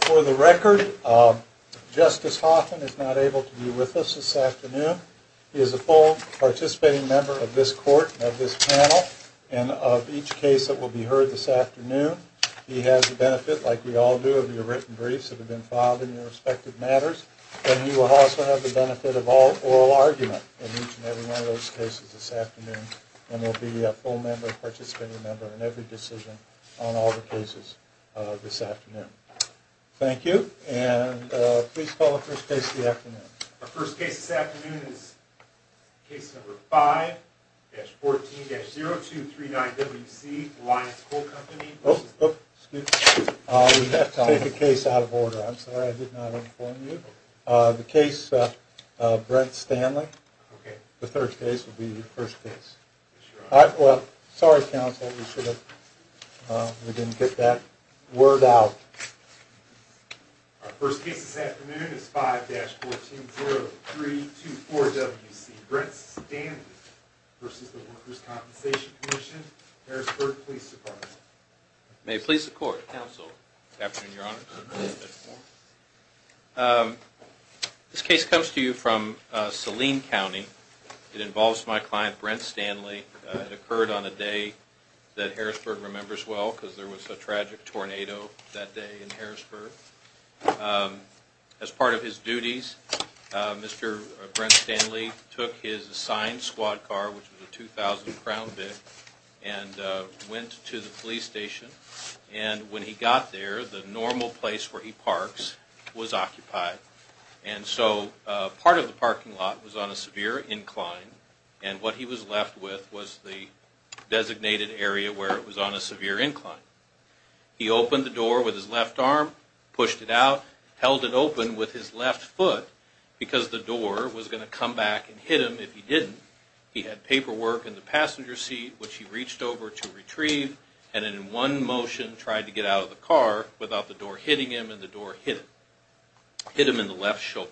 For the record, Justice Hoffman is not able to be with us this afternoon. He is a full participating member of this court, of this panel, and of each case that will be heard this afternoon. He has the benefit, like we all do, of your written briefs that have been filed in your respective matters, and he will also have the benefit of oral argument in each and every one of those cases this afternoon, and will be a full participating member in every decision on all the cases this afternoon. Thank you, and please call the first case of the afternoon. Our first case this afternoon is case number 5-14-0239WC, Alliance Coal Company. Oh, excuse me. We have to take a case out of order. I'm sorry I did not inform you. The case of Brent Stanley, the third case, will be your first case. Yes, Your Honor. Well, sorry, Counsel. We didn't get that word out. Our first case this afternoon is 5-14-0324WC, Brent Stanley v. Workers' Compensation Commission, Harrisburg Police Department. May it please the Court, Counsel, good afternoon, Your Honor. This case comes to you from Saline County. It involves my client, Brent Stanley. It occurred on a day that Harrisburg remembers well, because there was a tragic tornado that day in Harrisburg. As part of his duties, Mr. Brent Stanley took his assigned squad car, which was a 2000 Crown Vic, and went to the police station, and when he got there, the normal place where he parks was occupied, and so part of the parking lot was on a severe incline, and what he was left with was the designated area where it was on a severe incline. He opened the door with his left arm, pushed it out, held it open with his left foot, because the door was going to come back and hit him if he didn't. He had paperwork in the passenger seat, which he reached over to retrieve, and then in one motion tried to get out of the car without the door hitting him, and the door hit him, hit him in the left shoulder.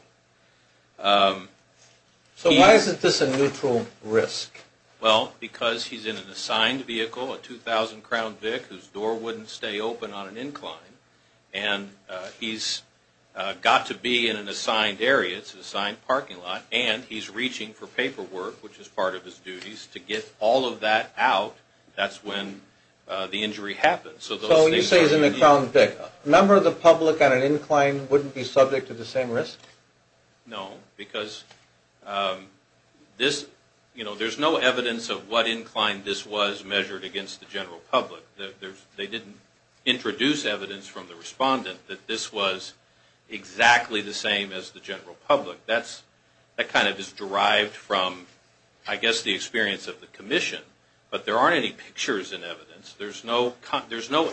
So why is this a neutral risk? Well, because he's in an assigned vehicle, a 2000 Crown Vic, whose door wouldn't stay open on an incline, and he's got to be in an assigned area, it's an assigned parking lot, and he's reaching for paperwork, which is part of his duties, to get all of that out, that's when the injury happens. So when you say he's in a Crown Vic, a member of the public on an incline wouldn't be subject to the same risk? No, because there's no evidence of what incline this was measured against the general public. They didn't introduce evidence from the respondent that this was exactly the same as the general public. That kind of is derived from, I guess, the experience of the commission. But there aren't any pictures in evidence. There's no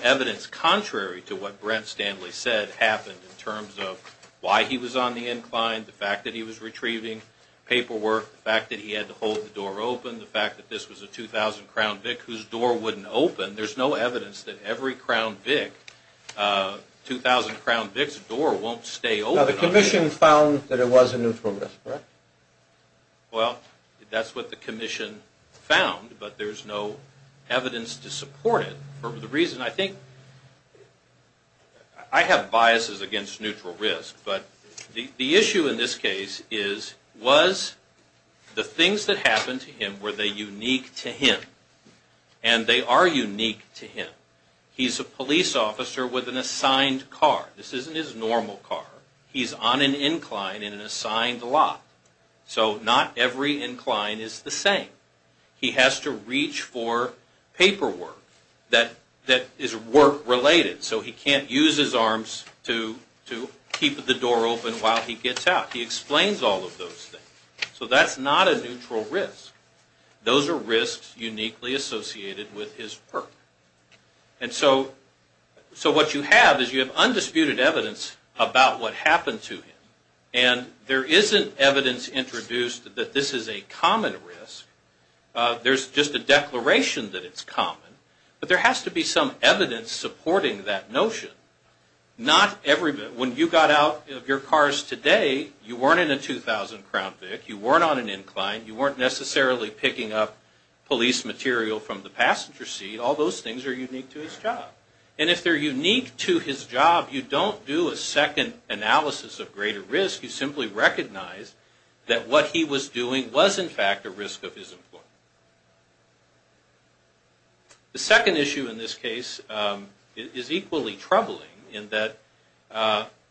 evidence contrary to what Brent Stanley said happened in terms of why he was on the incline, the fact that he was retrieving paperwork, the fact that he had to hold the door open, the fact that this was a 2000 Crown Vic whose door wouldn't open. There's no evidence that every Crown Vic, 2000 Crown Vic's door won't stay open. Now the commission found that it was a neutral risk, correct? Well, that's what the commission found, but there's no evidence to support it. The reason I think, I have biases against neutral risk, but the issue in this case is was the things that happened to him, were they unique to him? And they are unique to him. He's a police officer with an assigned car. This isn't his normal car. He's on an incline in an assigned lot. So not every incline is the same. He has to reach for paperwork that is work-related, so he can't use his arms to keep the door open while he gets out. He explains all of those things. So that's not a neutral risk. Those are risks uniquely associated with his perk. And so what you have is you have undisputed evidence about what happened to him, and there isn't evidence introduced that this is a common risk. There's just a declaration that it's common, but there has to be some evidence supporting that notion. When you got out of your cars today, you weren't in a 2000 Crown Vic. You weren't on an incline. You weren't necessarily picking up police material from the passenger seat. All those things are unique to his job. And if they're unique to his job, you don't do a second analysis of greater risk. You simply recognize that what he was doing was, in fact, a risk of his employment. The second issue in this case is equally troubling in that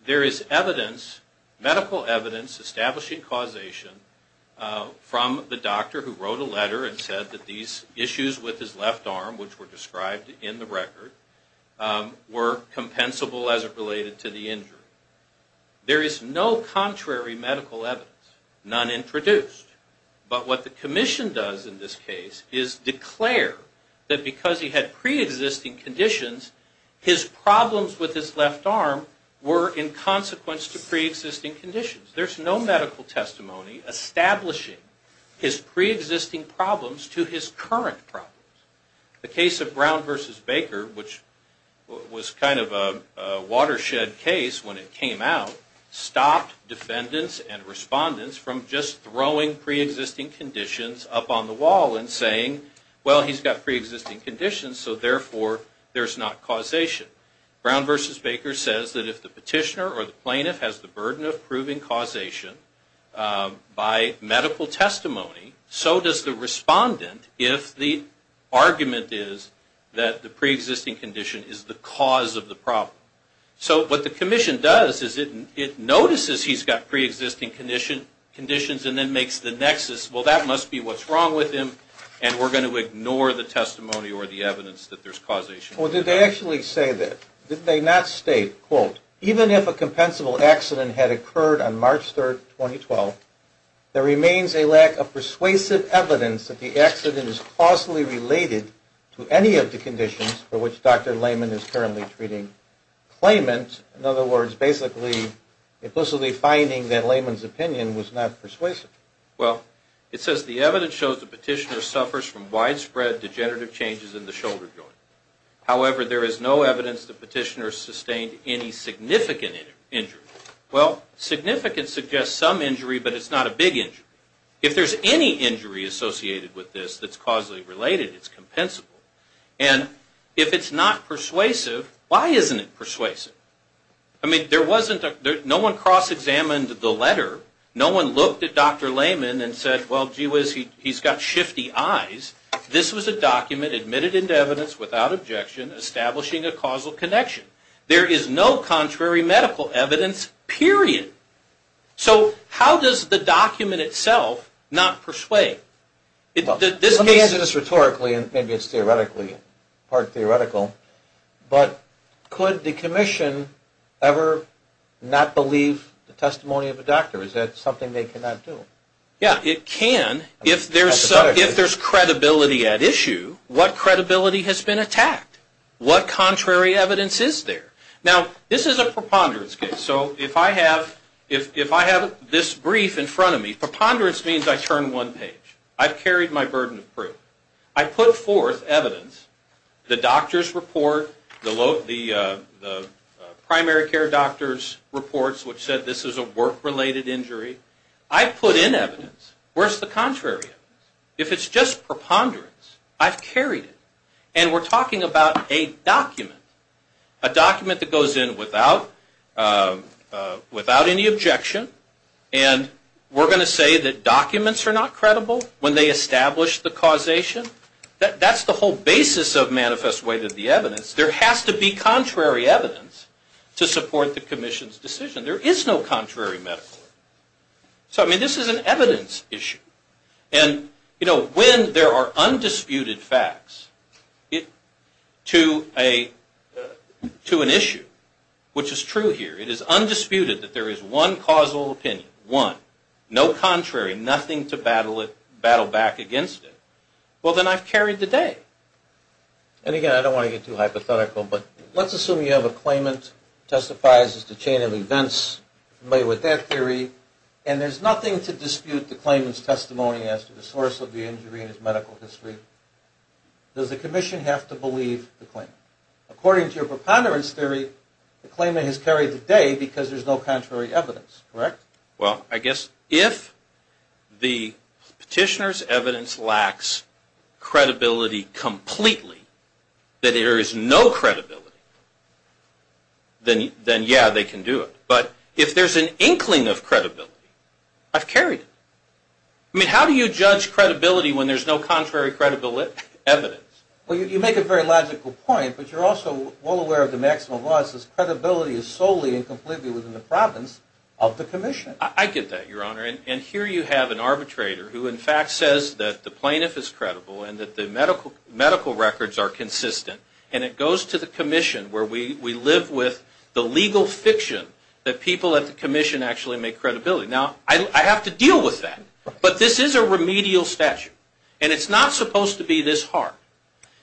there is evidence, medical evidence establishing causation from the doctor who wrote a letter and said that these issues with his left arm, which were described in the record, were compensable as it related to the injury. There is no contrary medical evidence, none introduced. But what the commission does in this case is declare that because he had preexisting conditions, his problems with his left arm were in consequence to preexisting conditions. There's no medical testimony establishing his preexisting problems to his current problems. The case of Brown v. Baker, which was kind of a watershed case when it came out, stopped defendants and respondents from just throwing preexisting conditions up on the wall and saying, well, he's got preexisting conditions, so therefore there's not causation. Brown v. Baker says that if the petitioner or the plaintiff has the burden of proving causation by medical testimony, so does the respondent if the argument is that the preexisting condition is the cause of the problem. So what the commission does is it notices he's got preexisting conditions and then makes the nexus, well, that must be what's wrong with him, and we're going to ignore the testimony or the evidence that there's causation. Well, did they actually say that? Did they not state, quote, even if a compensable accident had occurred on March 3, 2012, there remains a lack of persuasive evidence that the accident is causally related to any of the conditions for which Dr. Lehman is currently treating claimant. In other words, basically implicitly finding that Lehman's opinion was not persuasive. Well, it says the evidence shows the petitioner suffers from widespread degenerative changes in the shoulder joint. However, there is no evidence the petitioner sustained any significant injury. Well, significant suggests some injury, but it's not a big injury. If there's any injury associated with this that's causally related, it's compensable. And if it's not persuasive, why isn't it persuasive? I mean, no one cross-examined the letter. No one looked at Dr. Lehman and said, well, gee whiz, he's got shifty eyes. This was a document admitted into evidence without objection establishing a causal connection. There is no contrary medical evidence, period. So how does the document itself not persuade? Let me answer this rhetorically, and maybe it's theoretically, part theoretical. But could the commission ever not believe the testimony of a doctor? Is that something they cannot do? Yeah, it can if there's credibility at issue. What credibility has been attacked? What contrary evidence is there? Now, this is a preponderance case. So if I have this brief in front of me, preponderance means I turn one page. I've carried my burden of proof. I put forth evidence, the doctor's report, the primary care doctor's reports which said this is a work-related injury. I put in evidence. Where's the contrary evidence? If it's just preponderance, I've carried it. And we're talking about a document, a document that goes in without any objection. And we're going to say that documents are not credible when they establish the causation? That's the whole basis of manifest way to the evidence. There has to be contrary evidence to support the commission's decision. There is no contrary medical. So, I mean, this is an evidence issue. And, you know, when there are undisputed facts to an issue, which is true here, it is undisputed that there is one causal opinion, one, no contrary, nothing to battle back against it, well, then I've carried the day. And, again, I don't want to get too hypothetical, but let's assume you have a claimant testifies as to chain of events, somebody with that theory, and there's nothing to dispute the claimant's testimony as to the source of the injury and his medical history. Does the commission have to believe the claimant? According to your preponderance theory, the claimant has carried the day because there's no contrary evidence, correct? Well, I guess if the petitioner's evidence lacks credibility completely, that there is no credibility, then, yeah, they can do it. But if there's an inkling of credibility, I've carried it. I mean, how do you judge credibility when there's no contrary evidence? Well, you make a very logical point, but you're also well aware of the maximum loss as credibility is solely and completely within the province of the commission. I get that, Your Honor. And here you have an arbitrator who, in fact, says that the plaintiff is credible and that the medical records are consistent, and it goes to the commission where we live with the legal fiction that people at the commission actually make credibility. Now, I have to deal with that, but this is a remedial statute, and it's not supposed to be this hard.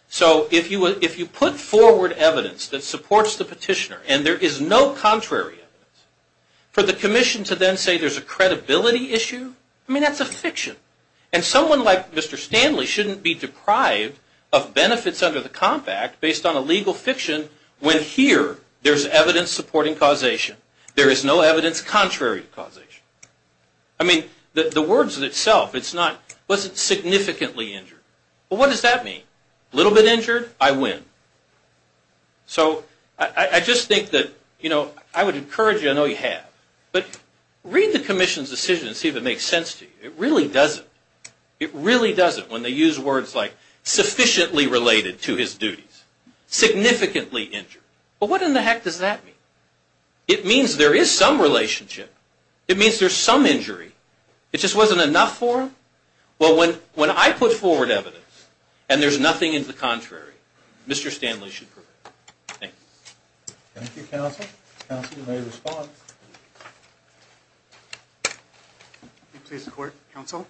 So if you put forward evidence that supports the petitioner and there is no contrary evidence, for the commission to then say there's a credibility issue, I mean, that's a fiction. And someone like Mr. Stanley shouldn't be deprived of benefits under the Comp Act based on a legal fiction when here there's evidence supporting causation. There is no evidence contrary to causation. I mean, the words itself, it's not, was it significantly injured? Well, what does that mean? A little bit injured, I win. So I just think that, you know, I would encourage you, I know you have, but read the commission's decision and see if it makes sense to you. It really doesn't. It really doesn't when they use words like sufficiently related to his duties. Significantly injured. Well, what in the heck does that mean? It means there is some relationship. It means there's some injury. It just wasn't enough for him. Well, when I put forward evidence and there's nothing in the contrary, Mr. Stanley should prevail. Thank you. Thank you, counsel. Counsel, you may respond. Please record, counsel.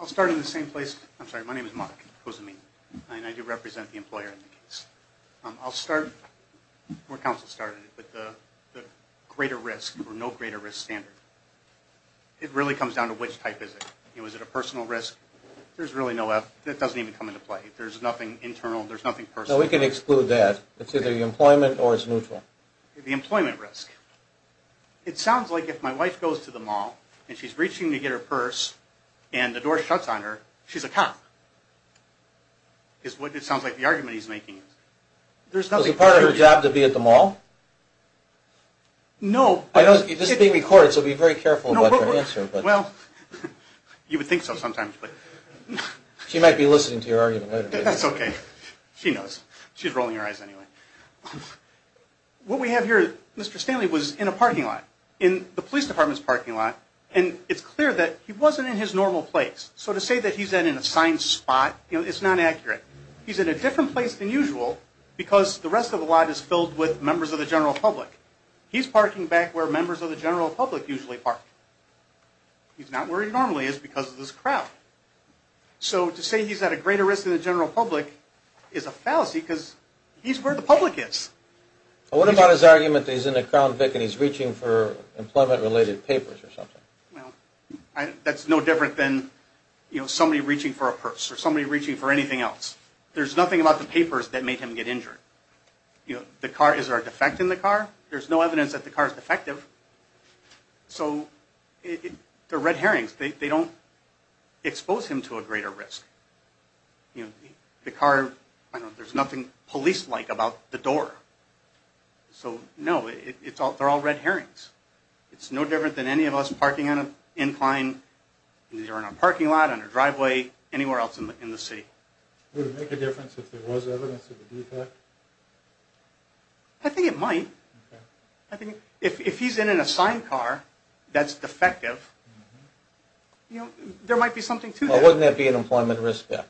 I'll start in the same place. I'm sorry, my name is Mark Kosamine, and I do represent the employer in the case. I'll start where counsel started with the greater risk or no greater risk standard. It really comes down to which type is it. You know, is it a personal risk? There's really no F. That doesn't even come into play. There's nothing internal. There's nothing personal. No, we can exclude that. It's either the employment or it's neutral. The employment risk. It sounds like if my wife goes to the mall and she's reaching to get her purse and the door shuts on her, she's a cop. It sounds like the argument he's making. Was it part of her job to be at the mall? No. This is being recorded, so be very careful about your answer. Well, you would think so sometimes. She might be listening to your argument later. That's okay. She knows. She's rolling her eyes anyway. What we have here, Mr. Stanley was in a parking lot, in the police department's parking lot, and it's clear that he wasn't in his normal place. So to say that he's in an assigned spot is not accurate. He's in a different place than usual because the rest of the lot is filled with members of the general public. He's parking back where members of the general public usually park. He's not where he normally is because of this crowd. So to say he's at a greater risk than the general public is a fallacy because he's where the public is. What about his argument that he's in a Crown Vic and he's reaching for employment-related papers or something? That's no different than somebody reaching for a purse or somebody reaching for anything else. There's nothing about the papers that made him get injured. Is there a defect in the car? There's no evidence that the car is defective. So the red herrings, they don't expose him to a greater risk. The car, there's nothing police-like about the door. So no, they're all red herrings. It's no different than any of us parking on an incline, either in a parking lot, on a driveway, anywhere else in the city. Would it make a difference if there was evidence of a defect? I think it might. If he's in an assigned car that's defective, there might be something to that. Wouldn't that be an employment risk? I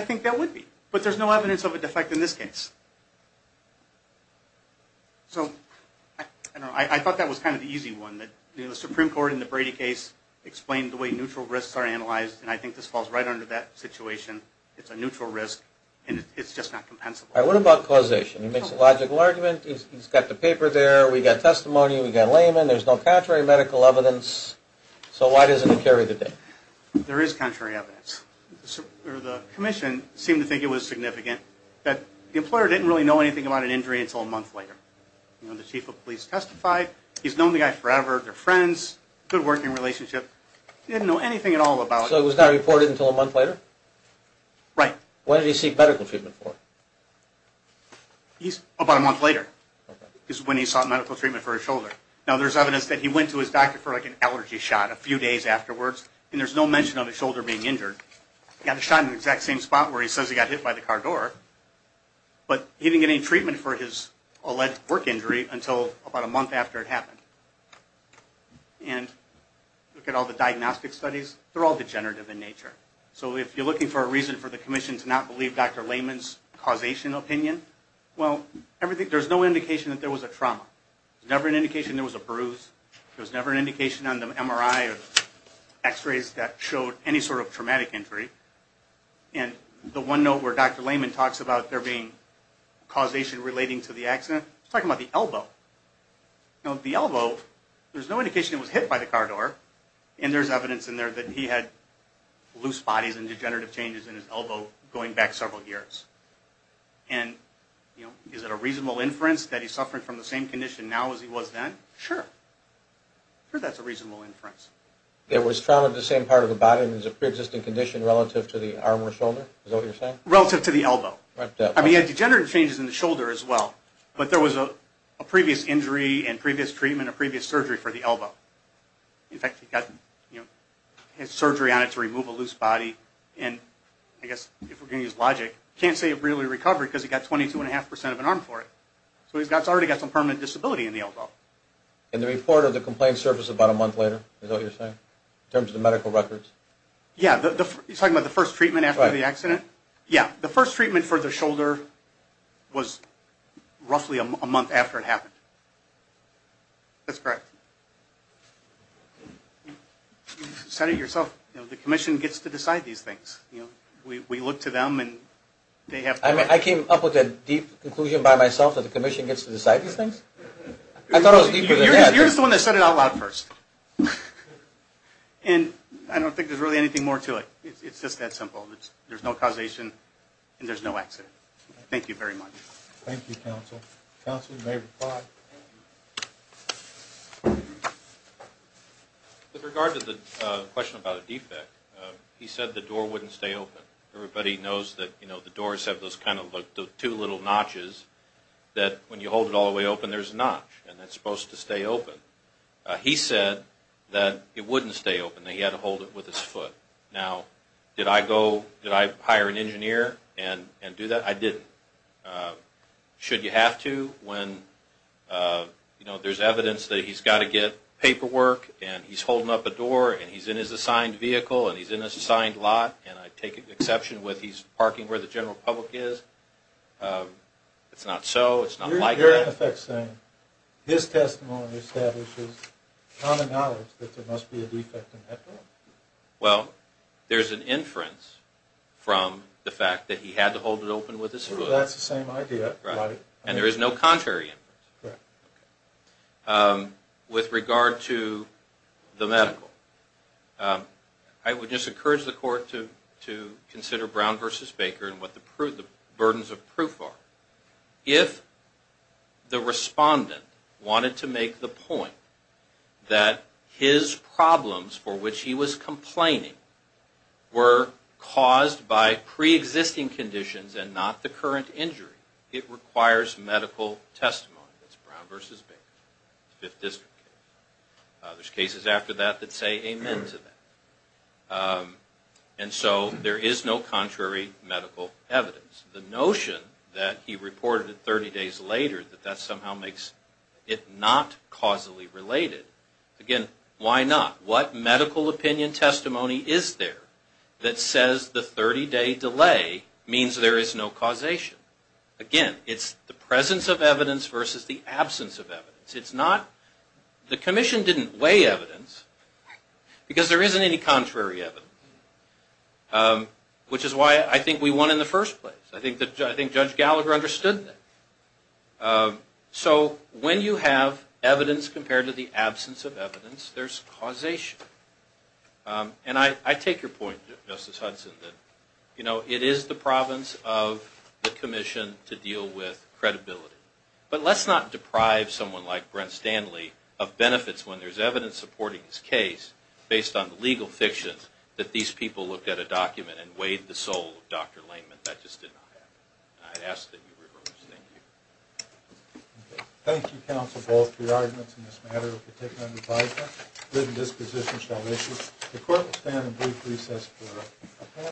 think that would be, but there's no evidence of a defect in this case. I thought that was kind of the easy one. The Supreme Court in the Brady case explained the way neutral risks are analyzed, and I think this falls right under that situation. It's a neutral risk, and it's just not compensable. What about causation? He makes a logical argument. He's got the paper there. We've got testimony. We've got laymen. There's no contrary medical evidence. So why doesn't it carry the day? There is contrary evidence. The commission seemed to think it was significant that the employer didn't really know anything about an injury until a month later. The chief of police testified. He's known the guy forever. They're friends, good working relationship. He didn't know anything at all about it. So it was not reported until a month later? Right. What did he seek medical treatment for? About a month later is when he sought medical treatment for his shoulder. Now, there's evidence that he went to his doctor for an allergy shot a few days afterwards, and there's no mention of his shoulder being injured. He got a shot in the exact same spot where he says he got hit by the car door, but he didn't get any treatment for his alleged work injury until about a month after it happened. And look at all the diagnostic studies. They're all degenerative in nature. So if you're looking for a reason for the commission to not believe Dr. Layman's causation opinion, well, there's no indication that there was a trauma. There was never an indication there was a bruise. There was never an indication on the MRI or x-rays that showed any sort of traumatic injury. And the one note where Dr. Layman talks about there being causation relating to the accident, he's talking about the elbow. Now, the elbow, there's no indication it was hit by the car door, and there's evidence in there that he had loose bodies and degenerative changes in his elbow going back several years. And, you know, is it a reasonable inference that he's suffering from the same condition now as he was then? Sure. Sure that's a reasonable inference. There was trauma to the same part of the body, and it was a preexisting condition relative to the arm or shoulder? Is that what you're saying? Relative to the elbow. Right. I mean, he had degenerative changes in the shoulder as well, but there was a previous injury and previous treatment, a previous surgery for the elbow. In fact, he got, you know, had surgery on it to remove a loose body, and I guess if we're going to use logic, can't say it really recovered because he got 22.5% of an arm for it. So he's already got some permanent disability in the elbow. And the report of the complaint surfaced about a month later, is that what you're saying, in terms of the medical records? Yeah. You're talking about the first treatment after the accident? Yeah. The first treatment for the shoulder was roughly a month after it happened. That's correct. You've said it yourself, you know, the commission gets to decide these things, you know. We look to them, and they have to make decisions. I came up with a deep conclusion by myself that the commission gets to decide these things. I thought I was deeper than that. You're just the one that said it out loud first. And I don't think there's really anything more to it. It's just that simple. There's no causation, and there's no accident. Thank you very much. Thank you, counsel. Counsel, you may reply. With regard to the question about a defect, he said the door wouldn't stay open. Everybody knows that the doors have those two little notches that when you hold it all the way open, there's a notch, and that's supposed to stay open. He said that it wouldn't stay open, that he had to hold it with his foot. Now, did I hire an engineer and do that? I didn't. Should you have to when there's evidence that he's got to get paperwork and he's holding up a door and he's in his assigned vehicle and he's in his assigned lot, and I take exception with he's parking where the general public is. It's not so. It's not like that. You're, in effect, saying his testimony establishes common knowledge that there must be a defect in that door. Well, there's an inference from the fact that he had to hold it open with his foot. That's the same idea. And there is no contrary inference. With regard to the medical, I would just encourage the court to consider Brown v. Baker and what the burdens of proof are. If the respondent wanted to make the point that his problems for which he was complaining were caused by preexisting conditions and not the current injury, it requires medical testimony. That's Brown v. Baker, Fifth District case. There's cases after that that say amen to that. And so there is no contrary medical evidence. The notion that he reported it 30 days later, that that somehow makes it not causally related, again, why not? What medical opinion testimony is there that says the 30-day delay means there is no causation? Again, it's the presence of evidence versus the absence of evidence. The commission didn't weigh evidence because there isn't any contrary evidence, which is why I think we won in the first place. I think Judge Gallagher understood that. So when you have evidence compared to the absence of evidence, there's causation. And I take your point, Justice Hudson, that it is the province of the commission to deal with credibility. But let's not deprive someone like Brent Stanley of benefits when there's evidence supporting his case based on the legal fiction that these people looked at a document and weighed the soul of Dr. Lehman. That just did not happen. I ask that you reverse. Thank you. Thank you, counsel, both for your arguments in this matter. Thank you for taking my advice on written disposition and salvation. The court will stand on brief recess for a couple of minutes.